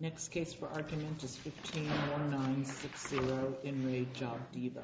Next case for argument is 151960, Enrique Jobdiba. Next case is 151960, Enrique Jobdiba. Next case is 151960, Enrique Jobdiba.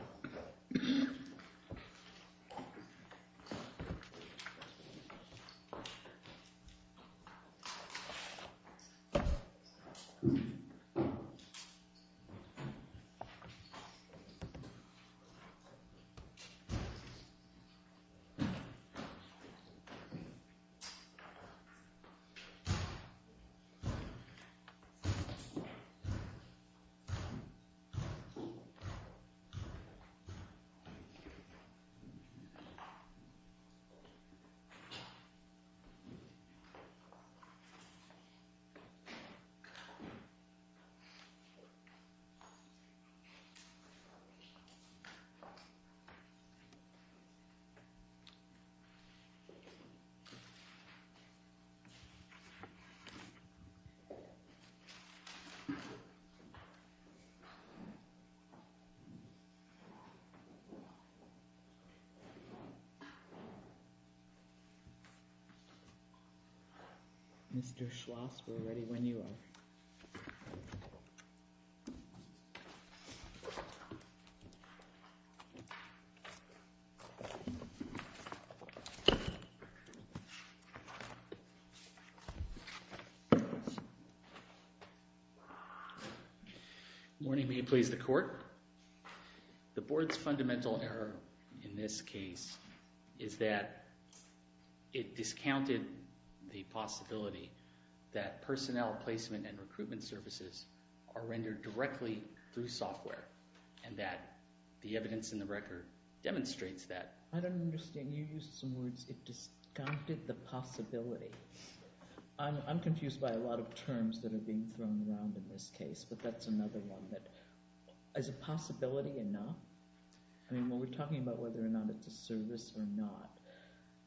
Mr. Schloss, we're ready when you are. Good morning. May it please the court. The board's fundamental error in this case is that it discounted the possibility that personnel placement and recruitment services are rendered directly through software and that the evidence in the record demonstrates that. I don't understand. You used some words. It discounted the possibility. I'm confused by a lot of terms that are being thrown around in this case, but that's another one. Is a possibility enough? I mean, when we're talking about whether or not it's a service or not,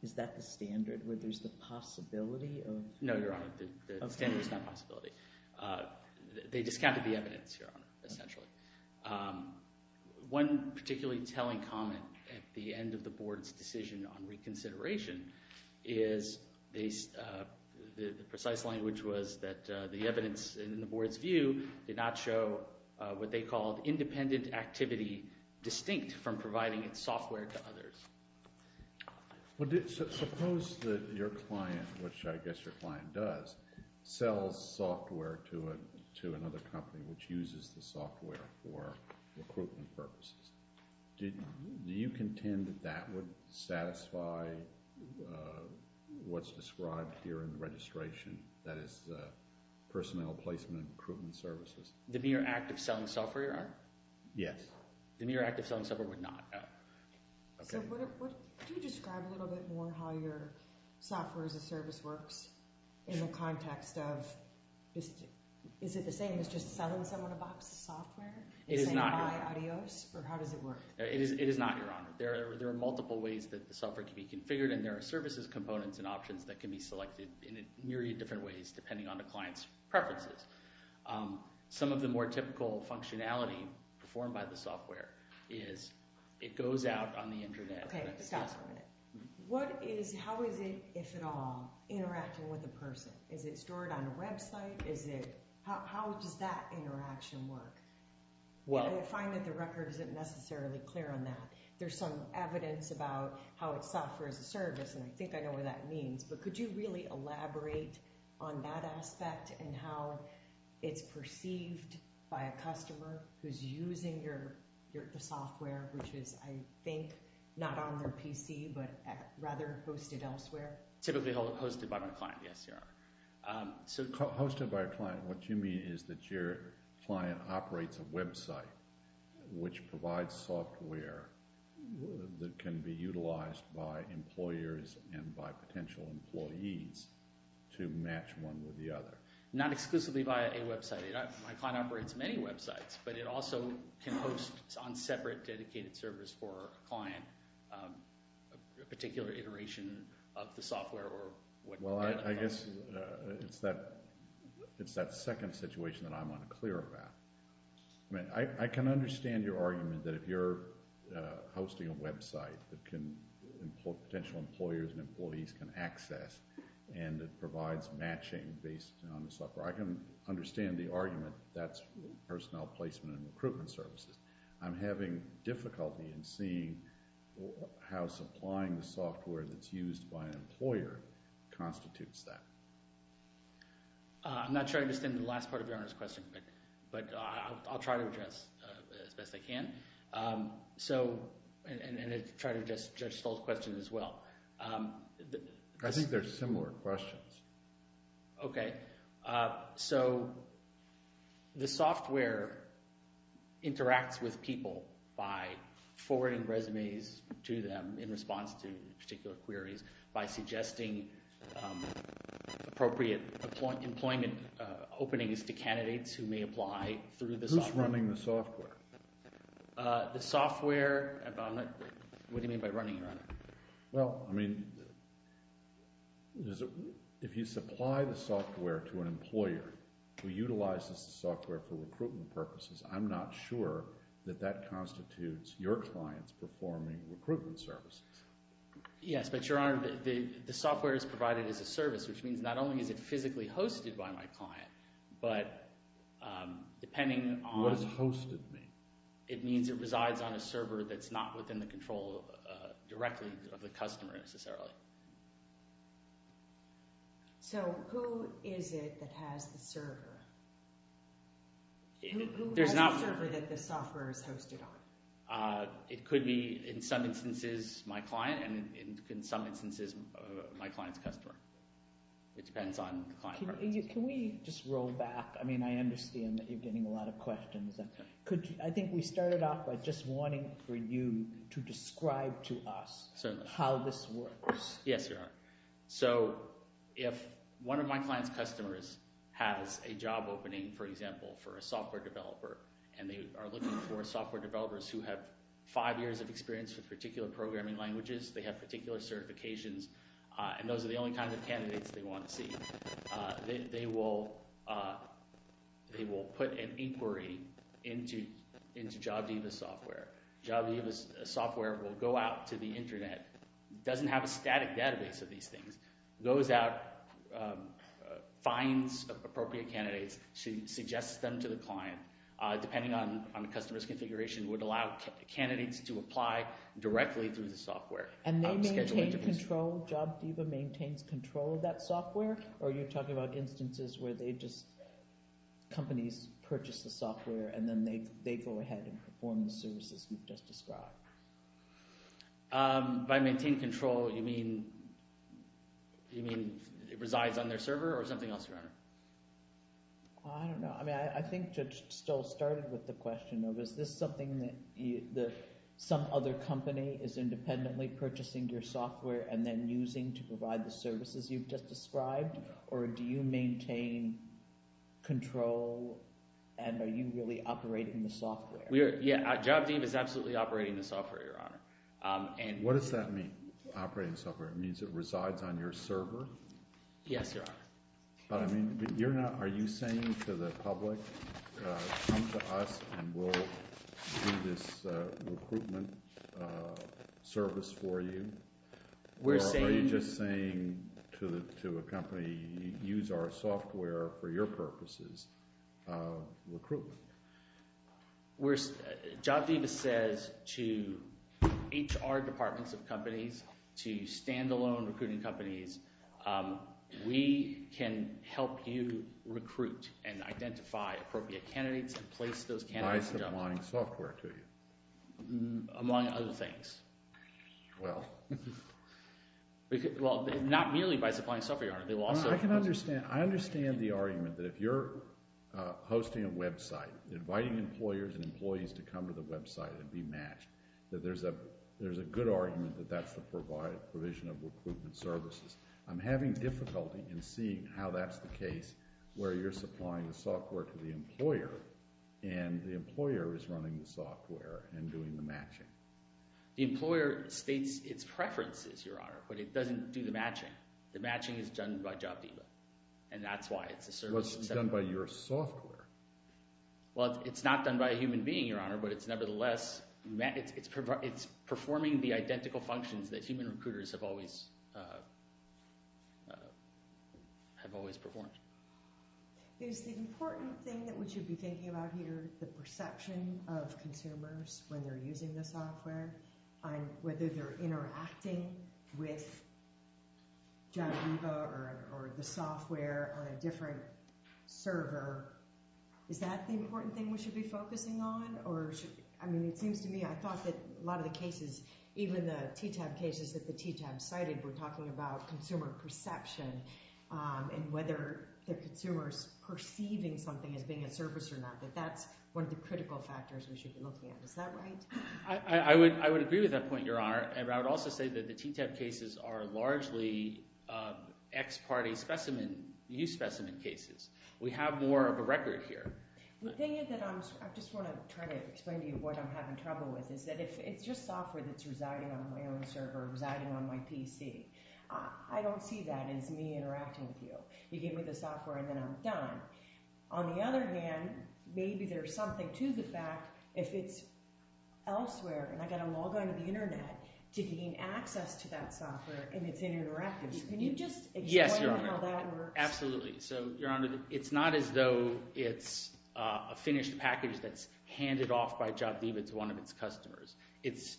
is that the standard, where there's the possibility of... No, Your Honor, the standard is not possibility. They discounted the evidence, Your Honor, essentially. One particularly telling comment at the end of the board's decision on reconsideration is the precise language was that the evidence in the board's view did not show what they called independent activity distinct from providing its software to others. Suppose that your client, which I guess your client does, sells software to another company which uses the software for recruitment purposes. Do you contend that that would satisfy what's described here in the registration? That is, personnel placement and recruitment services. The mere act of selling software, Your Honor? Yes. The mere act of selling software would not. Could you describe a little bit more how your software as a service works in the context of... Is it the same as just selling someone a box of software? It is not, Your Honor. Or how does it work? It is not, Your Honor. There are multiple ways that the software can be configured, and there are services, components, and options that can be selected in a myriad of different ways depending on the client's preferences. Some of the more typical functionality performed by the software is it goes out on the Internet. Okay, stop for a minute. How is it, if at all, interacting with a person? Is it stored on a website? How does that interaction work? I find that the record isn't necessarily clear on that. There's some evidence about how it's software as a service, and I think I know what that means. But could you really elaborate on that aspect and how it's perceived by a customer who's using the software, which is, I think, not on their PC but rather hosted elsewhere? Typically hosted by my client, yes, Your Honor. Hosted by a client. What you mean is that your client operates a website which provides software that can be utilized by employers and by potential employees to match one with the other. Not exclusively by a website. My client operates many websites, but it also can host on separate dedicated servers for a client a particular iteration of the software or whatever. Well, I guess it's that second situation that I'm unclear about. I can understand your argument that if you're hosting a website that potential employers and employees can access and it provides matching based on the software. I can understand the argument that's personnel placement and recruitment services. I'm having difficulty in seeing how supplying the software that's used by an employer constitutes that. I'm not sure I understand the last part of Your Honor's question, but I'll try to address it as best I can. And I'll try to address Judge Stoll's question as well. I think they're similar questions. Okay. So the software interacts with people by forwarding resumes to them in response to particular queries by suggesting appropriate employment openings to candidates who may apply through the software. Who's running the software? The software. What do you mean by running it, Your Honor? Well, I mean, if you supply the software to an employer who utilizes the software for recruitment purposes, I'm not sure that that constitutes your client's performing recruitment services. Yes, but Your Honor, the software is provided as a service, which means not only is it physically hosted by my client, but depending on... What does hosted mean? It means it resides on a server that's not within the control directly of the customer necessarily. So who is it that has the server? Who has the server that the software is hosted on? It could be, in some instances, my client, and in some instances, my client's customer. It depends on the client's preferences. Can we just roll back? I mean, I understand that you're getting a lot of questions. I think we started off by just wanting for you to describe to us how this works. Yes, Your Honor. So if one of my client's customers has a job opening, for example, for a software developer, and they are looking for software developers who have five years of experience with particular programming languages, they have particular certifications, and those are the only kinds of candidates they want to see. They will put an inquiry into JobDiva's software. JobDiva's software will go out to the Internet, doesn't have a static database of these things, goes out, finds appropriate candidates, suggests them to the client. Depending on the customer's configuration, would allow candidates to apply directly through the software. And they maintain control? JobDiva maintains control of that software? Or are you talking about instances where companies purchase the software and then they go ahead and perform the services you've just described? By maintain control, you mean it resides on their server or something else, Your Honor? I don't know. I think Judge Stoll started with the question of, is this something that some other company is independently purchasing your software and then using to provide the services you've just described? Or do you maintain control and are you really operating the software? Yeah, JobDiva is absolutely operating the software, Your Honor. What does that mean, operating the software? It means it resides on your server? Yes, Your Honor. Are you saying to the public, come to us and we'll do this recruitment service for you? Or are you just saying to a company, use our software for your purposes of recruitment? JobDiva says to HR departments of companies, to standalone recruiting companies, we can help you recruit and identify appropriate candidates and place those candidates in jobs. By supplying software to you? Among other things. Well. Well, not merely by supplying software, Your Honor. I can understand. I understand the argument that if you're hosting a website, inviting employers and employees to come to the website and be matched, that there's a good argument that that's the provision of recruitment services. I'm having difficulty in seeing how that's the case where you're supplying the software to the employer and the employer is running the software and doing the matching. The employer states its preferences, Your Honor, but it doesn't do the matching. The matching is done by JobDiva, and that's why it's a service. Well, it's done by your software. Well, it's not done by a human being, Your Honor, but it's nevertheless performing the identical functions that human recruiters have always performed. Is the important thing that we should be thinking about here the perception of consumers when they're using the software and whether they're interacting with JobDiva or the software on a different server, is that the important thing we should be focusing on? I mean, it seems to me I thought that a lot of the cases, even the TTAB cases that the TTAB cited, were talking about consumer perception and whether the consumer is perceiving something as being a service or not, that that's one of the critical factors we should be looking at. Is that right? I would agree with that point, Your Honor, and I would also say that the TTAB cases are largely ex parte specimen use specimen cases. We have more of a record here. The thing that I'm – I just want to try to explain to you what I'm having trouble with is that if it's just software that's residing on my own server, residing on my PC, I don't see that as me interacting with you. You give me the software and then I'm done. On the other hand, maybe there's something to the fact if it's elsewhere and I've got to log on to the internet to gain access to that software and it's interactive. Can you just explain how that works? Yes, Your Honor. Absolutely. So, Your Honor, it's not as though it's a finished package that's handed off by JobDiva to one of its customers. It's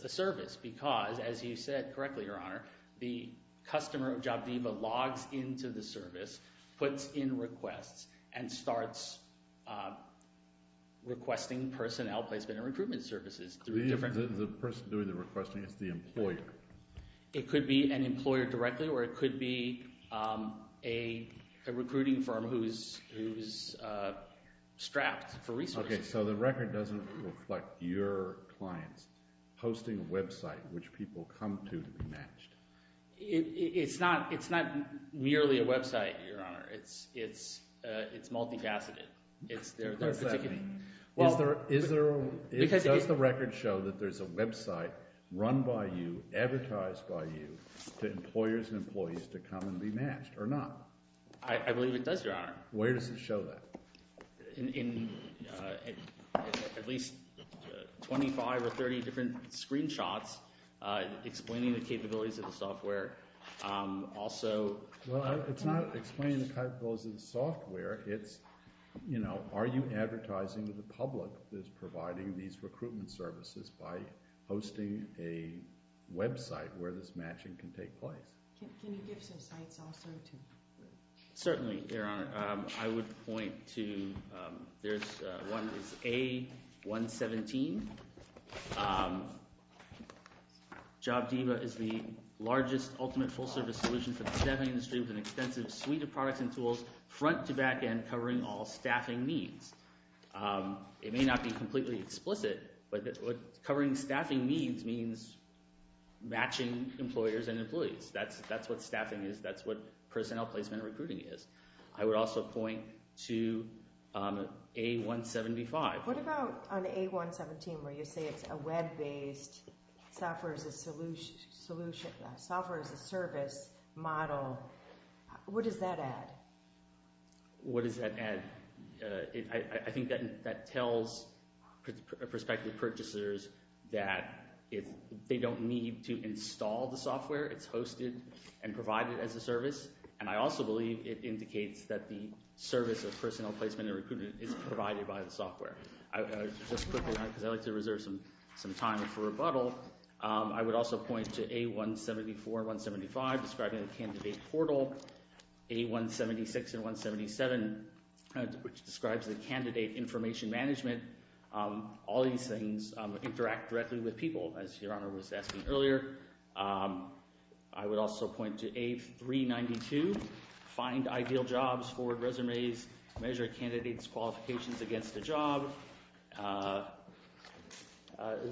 a service because, as you said correctly, Your Honor, the customer of JobDiva logs into the service, puts in requests, and starts requesting personnel placement and recruitment services. The person doing the requesting is the employer. It could be an employer directly or it could be a recruiting firm who's strapped for resources. Okay, so the record doesn't reflect your clients hosting a website which people come to to be matched. It's not merely a website, Your Honor. It's multifaceted. What does that mean? Does the record show that there's a website run by you, advertised by you, to employers and employees to come and be matched or not? I believe it does, Your Honor. Where does it show that? In at least 25 or 30 different screenshots explaining the capabilities of the software. Well, it's not explaining the capabilities of the software. It's, you know, are you advertising to the public that's providing these recruitment services by hosting a website where this matching can take place? Can you give some sites also? Certainly, Your Honor. I would point to A117. JobDiva is the largest ultimate full-service solution for the staffing industry with an extensive suite of products and tools front to back and covering all staffing needs. It may not be completely explicit, but covering staffing needs means matching employers and employees. That's what staffing is. That's what personnel placement and recruiting is. I would also point to A175. What about on A117 where you say it's a web-based software-as-a-service model? What does that add? What does that add? I think that tells prospective purchasers that they don't need to install the software. It's hosted and provided as a service. And I also believe it indicates that the service of personnel placement and recruitment is provided by the software. Just quickly, because I'd like to reserve some time for rebuttal, I would also point to A174 and 175 describing the candidate portal, A176 and 177, which describes the candidate information management. All these things interact directly with people, as Your Honor was asking earlier. I would also point to A392, find ideal jobs, forward resumes, measure candidates' qualifications against a job.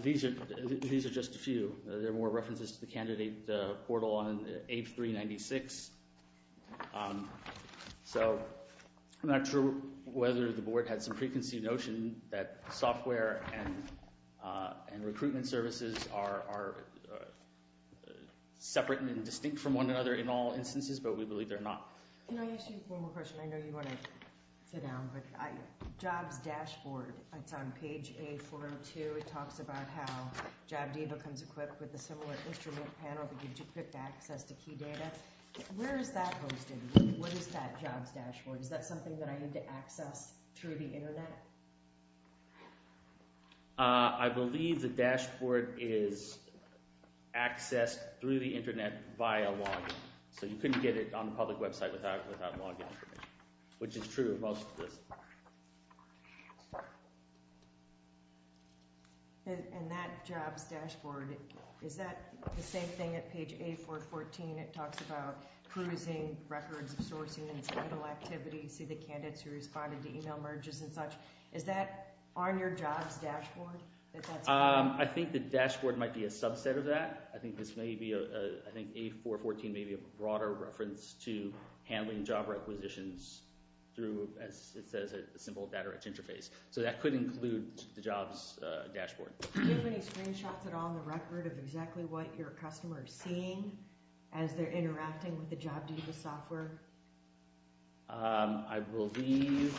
These are just a few. There are more references to the candidate portal on A396. I'm not sure whether the Board had some preconceived notion that software and recruitment services are separate and distinct from one another in all instances, but we believe they're not. Can I ask you one more question? I know you want to sit down, but Jobs Dashboard, it's on page A402. It talks about how JobDiva comes equipped with a similar instrument panel that gives you quick access to key data. Where is that hosted? What is that Jobs Dashboard? Is that something that I need to access through the Internet? I believe the dashboard is accessed through the Internet via login. So you couldn't get it on a public website without login, which is true of most of this. And that Jobs Dashboard, is that the same thing at page A414? It talks about cruising, records, sourcing, and digital activity. See the candidates who responded to email merges and such. Is that on your Jobs Dashboard? I think the dashboard might be a subset of that. I think A414 may be a broader reference to handling job requisitions through, as it says, a simple data interface. So that could include the Jobs Dashboard. Do you have any screenshots at all on the record of exactly what your customers are seeing as they're interacting with the JobDiva software? I believe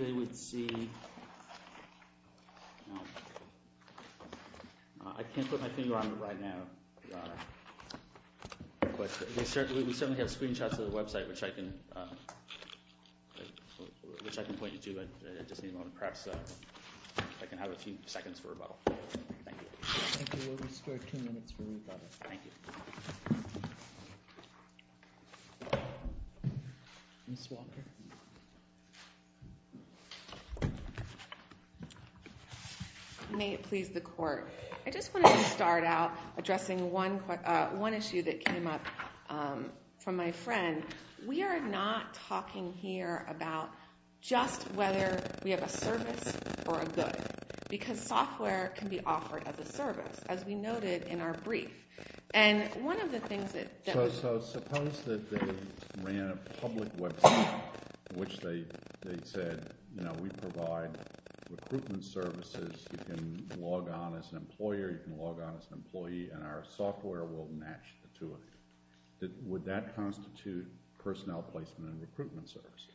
they would see – I can't put my finger on it right now. But we certainly have screenshots of the website, which I can point you to. I just need a moment, perhaps, if I can have a few seconds for rebuttal. Thank you. Thank you. We'll restore two minutes for rebuttal. Thank you. Ms. Walker? May it please the Court. I just wanted to start out addressing one issue that came up from my friend. We are not talking here about just whether we have a service or a good, because software can be offered as a service, as we noted in our brief. And one of the things that – So suppose that they ran a public website in which they said, you know, we provide recruitment services. You can log on as an employer. You can log on as an employee, and our software will match the two of you. Would that constitute personnel placement and recruitment services?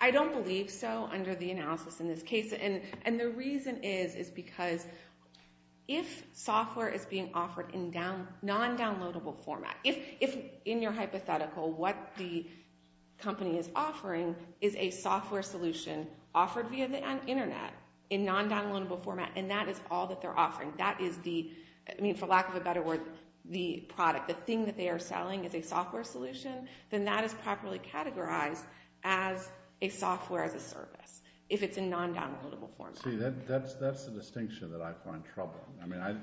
I don't believe so under the analysis in this case. And the reason is is because if software is being offered in non-downloadable format, if in your hypothetical what the company is offering is a software solution offered via the Internet in non-downloadable format, and that is all that they're offering, that is the – I mean, for lack of a better word, the product, the thing that they are selling is a software solution, then that is properly categorized as a software as a service if it's in non-downloadable format. See, that's the distinction that I find troubling. I mean,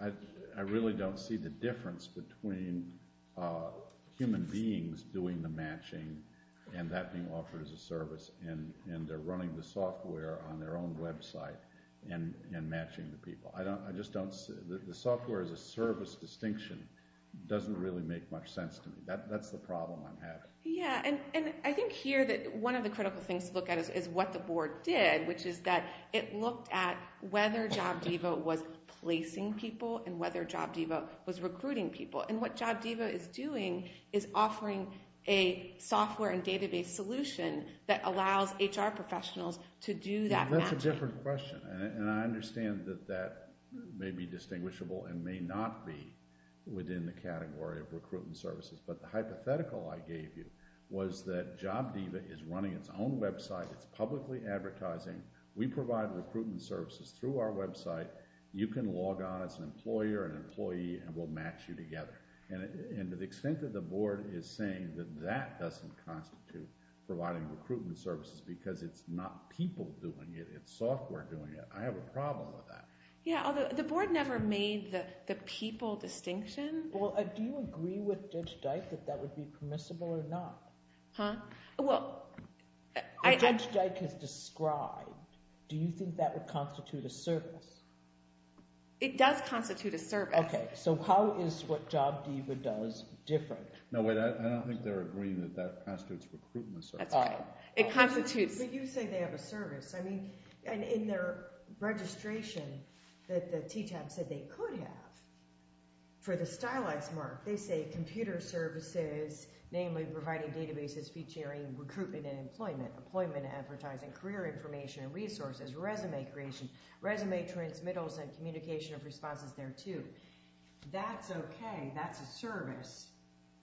I really don't see the difference between human beings doing the matching and that being offered as a service, and they're running the software on their own website and matching the people. I just don't – the software as a service distinction doesn't really make much sense to me. That's the problem I'm having. Yeah, and I think here that one of the critical things to look at is what the board did, which is that it looked at whether JobDiva was placing people and whether JobDiva was recruiting people. And what JobDiva is doing is offering a software and database solution that allows HR professionals to do that matching. That's a different question, and I understand that that may be distinguishable and may not be within the category of recruitment services. But the hypothetical I gave you was that JobDiva is running its own website. It's publicly advertising. We provide recruitment services through our website. You can log on as an employer, an employee, and we'll match you together. And to the extent that the board is saying that that doesn't constitute providing recruitment services because it's not people doing it, it's software doing it, I have a problem with that. Yeah, although the board never made the people distinction. Well, do you agree with Judge Dyke that that would be permissible or not? Huh? Well, I – If Judge Dyke has described, do you think that would constitute a service? It does constitute a service. Okay, so how is what JobDiva does different? No, wait, I don't think they're agreeing that that constitutes recruitment services. That's fine. It constitutes – But you say they have a service. I mean, in their registration that the TTAB said they could have for the stylized mark, they say computer services, namely providing databases featuring recruitment and employment, employment and advertising, career information and resources, resume creation, resume transmittals, and communication of responses there too. That's okay. That's a service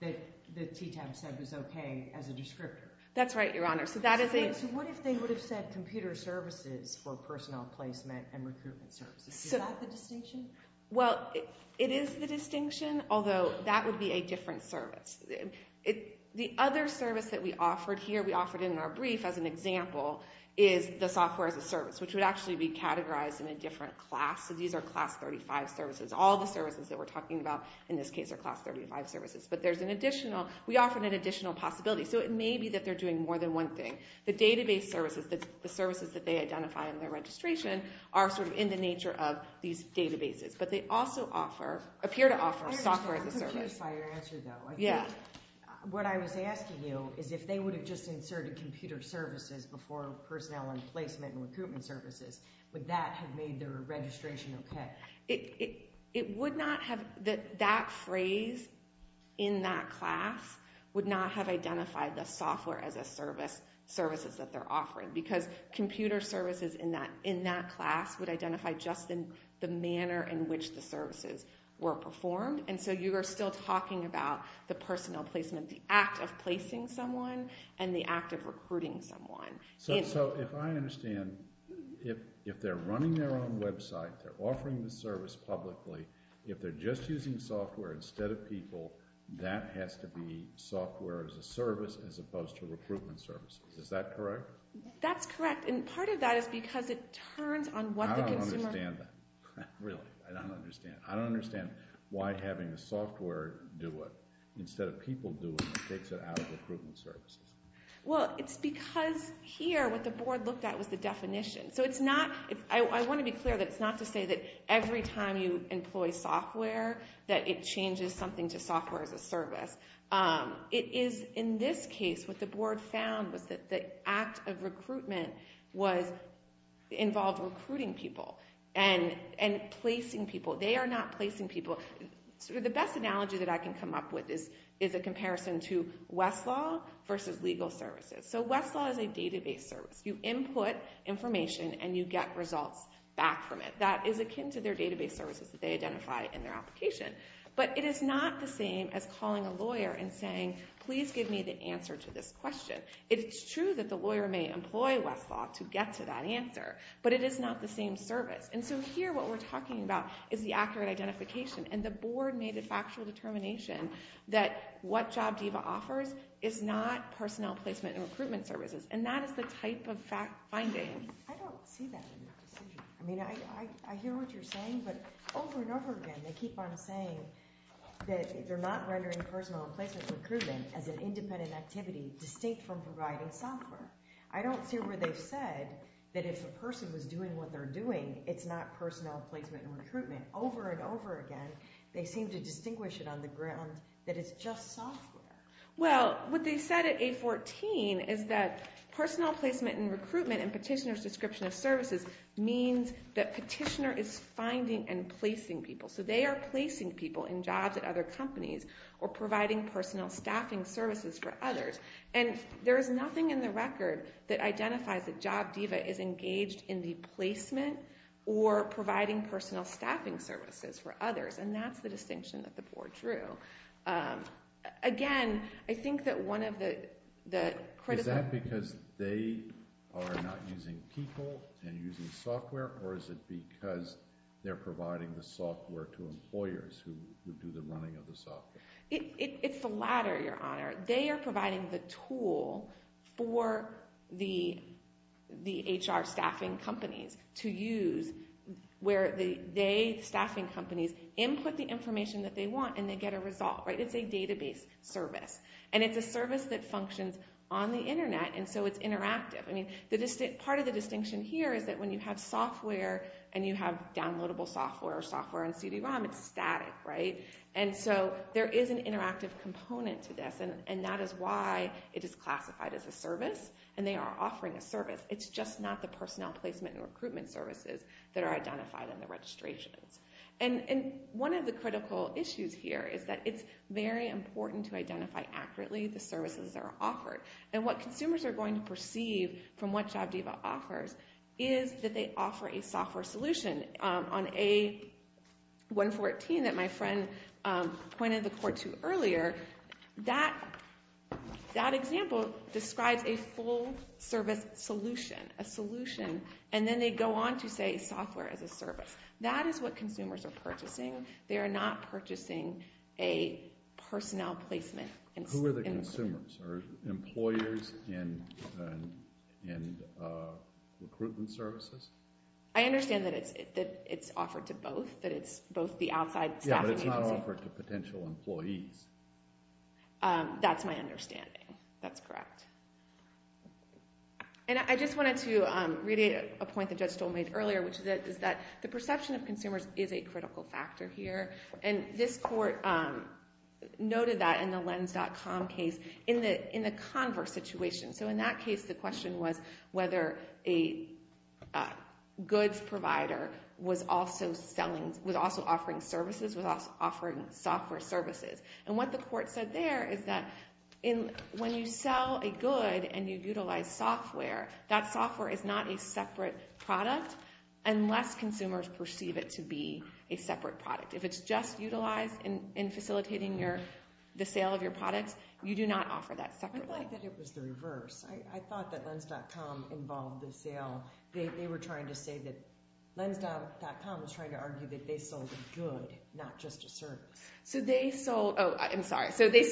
that the TTAB said was okay as a descriptor. That's right, Your Honor. So that is a – So what if they would have said computer services for personnel placement and recruitment services? Is that the distinction? Well, it is the distinction, although that would be a different service. The other service that we offered here, we offered in our brief as an example, is the software as a service, which would actually be categorized in a different class. So these are Class 35 services. All the services that we're talking about in this case are Class 35 services. But there's an additional – we offered an additional possibility. So it may be that they're doing more than one thing. The database services, the services that they identify in their registration, are sort of in the nature of these databases. But they also offer – appear to offer software as a service. I'm curious by your answer, though. Yeah. What I was asking you is if they would have just inserted computer services before personnel and placement and recruitment services, would that have made their registration okay? It would not have – that phrase in that class would not have identified the software as a service, services that they're offering, because computer services in that class would identify just the manner in which the services were performed. And so you are still talking about the personnel placement, the act of placing someone and the act of recruiting someone. So if I understand, if they're running their own website, they're offering the service publicly, if they're just using software instead of people, that has to be software as a service as opposed to recruitment services. Is that correct? That's correct. And part of that is because it turns on what the consumer – I don't understand that. Really. I don't understand. I don't understand why having the software do it instead of people do it takes it out of recruitment services. Well, it's because here what the board looked at was the definition. So it's not – I want to be clear that it's not to say that every time you employ software that it changes something to software as a service. It is in this case what the board found was that the act of recruitment involved recruiting people and placing people. They are not placing people. The best analogy that I can come up with is a comparison to Westlaw versus legal services. So Westlaw is a database service. You input information and you get results back from it. That is akin to their database services that they identify in their application. But it is not the same as calling a lawyer and saying, please give me the answer to this question. It's true that the lawyer may employ Westlaw to get to that answer, but it is not the same service. And so here what we're talking about is the accurate identification, and the board made a factual determination that what JobDiva offers is not personnel placement and recruitment services, and that is the type of finding. I don't see that in their decision. I mean, I hear what you're saying, but over and over again they keep on saying that they're not rendering personnel placement and recruitment as an independent activity distinct from providing software. I don't see where they've said that if a person was doing what they're doing, it's not personnel placement and recruitment. Over and over again they seem to distinguish it on the ground that it's just software. Well, what they said at 814 is that personnel placement and recruitment and petitioner's description of services means that petitioner is finding and placing people. So they are placing people in jobs at other companies or providing personnel staffing services for others. And there is nothing in the record that identifies that JobDiva is engaged in the placement or providing personnel staffing services for others, and that's the distinction that the board drew. Again, I think that one of the critical— Is that because they are not using people and using software, or is it because they're providing the software to employers who do the running of the software? It's the latter, Your Honor. They are providing the tool for the HR staffing companies to use where the staffing companies input the information that they want and they get a result. It's a database service. And it's a service that functions on the Internet, and so it's interactive. Part of the distinction here is that when you have software and you have downloadable software or software on CD-ROM, it's static. And so there is an interactive component to this, and that is why it is classified as a service and they are offering a service. It's just not the personnel placement and recruitment services that are identified in the registrations. And one of the critical issues here is that it's very important to identify accurately the services that are offered. And what consumers are going to perceive from what JobDiva offers is that they offer a software solution. On A114 that my friend pointed the court to earlier, that example describes a full service solution, a solution, and then they go on to say software as a service. That is what consumers are purchasing. They are not purchasing a personnel placement. Who are the consumers? Are they employers in recruitment services? I understand that it's offered to both, that it's both the outside staff agency. Yeah, but it's not offered to potential employees. That's my understanding. That's correct. And I just wanted to really point to a point that Judge Stoll made earlier, which is that the perception of consumers is a critical factor here, and this court noted that in the Lens.com case in the converse situation. So in that case, the question was whether a goods provider was also offering services, was offering software services. And what the court said there is that when you sell a good and you utilize software, that software is not a separate product unless consumers perceive it to be a separate product. If it's just utilized in facilitating the sale of your products, you do not offer that separately. I thought that it was the reverse. I thought that Lens.com involved the sale. They were trying to say that Lens.com was trying to argue that they sold a good, not just a service. So they sold – oh, I'm sorry. So they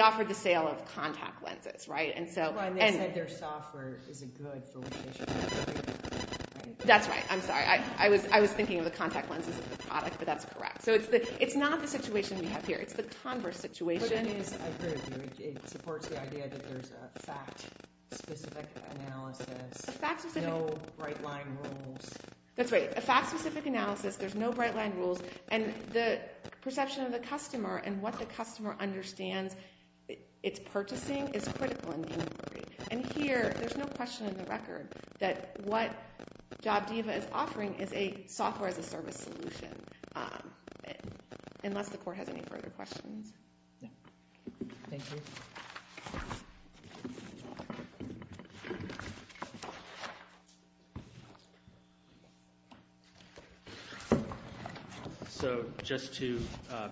offered the sale of contact lenses, right? Well, and they said their software is a good for what they should be offering. That's right. I'm sorry. I was thinking of the contact lenses as the product, but that's correct. So it's not the situation we have here. It's the converse situation. I agree with you. It supports the idea that there's a fact-specific analysis, no bright-line rules. That's right. A fact-specific analysis, there's no bright-line rules, and the perception of the customer and what the customer understands it's purchasing is critical in the inquiry. And here, there's no question in the record that what JobDiva is offering is a software-as-a-service solution, unless the court has any further questions. Thank you. So just to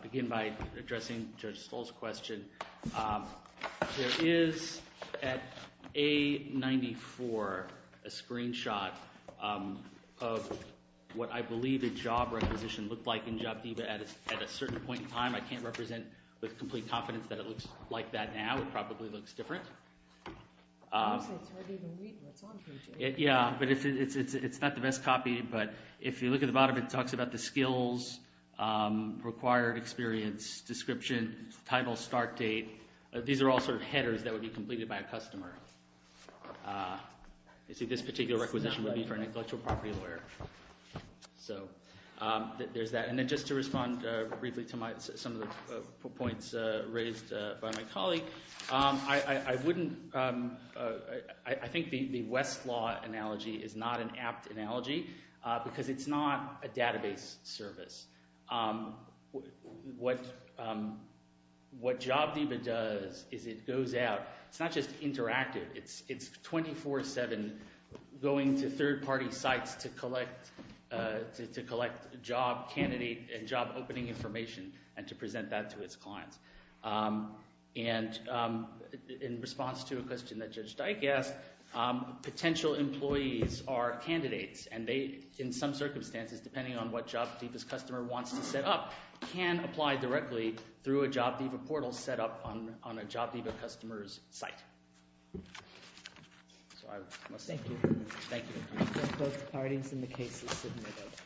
begin by addressing Judge Stoll's question, there is, at A-94, a screenshot of what I believe a job requisition looked like in JobDiva at a certain point in time. I can't represent with complete confidence that it looks like that now. It probably looks different. I would say it's harder to read when it's on page 8. Yeah, but it's not the best copy. But if you look at the bottom, it talks about the skills, required experience, description, title, start date. These are all sort of headers that would be completed by a customer. You see this particular requisition would be for an intellectual property lawyer. So there's that. And then just to respond briefly to some of the points raised by my colleague, I think the Westlaw analogy is not an apt analogy because it's not a database service. What JobDiva does is it goes out. It's not just interactive. It's 24-7 going to third-party sites to collect job candidate and job opening information and to present that to its clients. And in response to a question that Judge Dyke asked, potential employees are candidates, and they, in some circumstances, depending on what JobDiva's customer wants to set up, can apply directly through a JobDiva portal set up on a JobDiva customer's site. So I must say thank you. Thank you.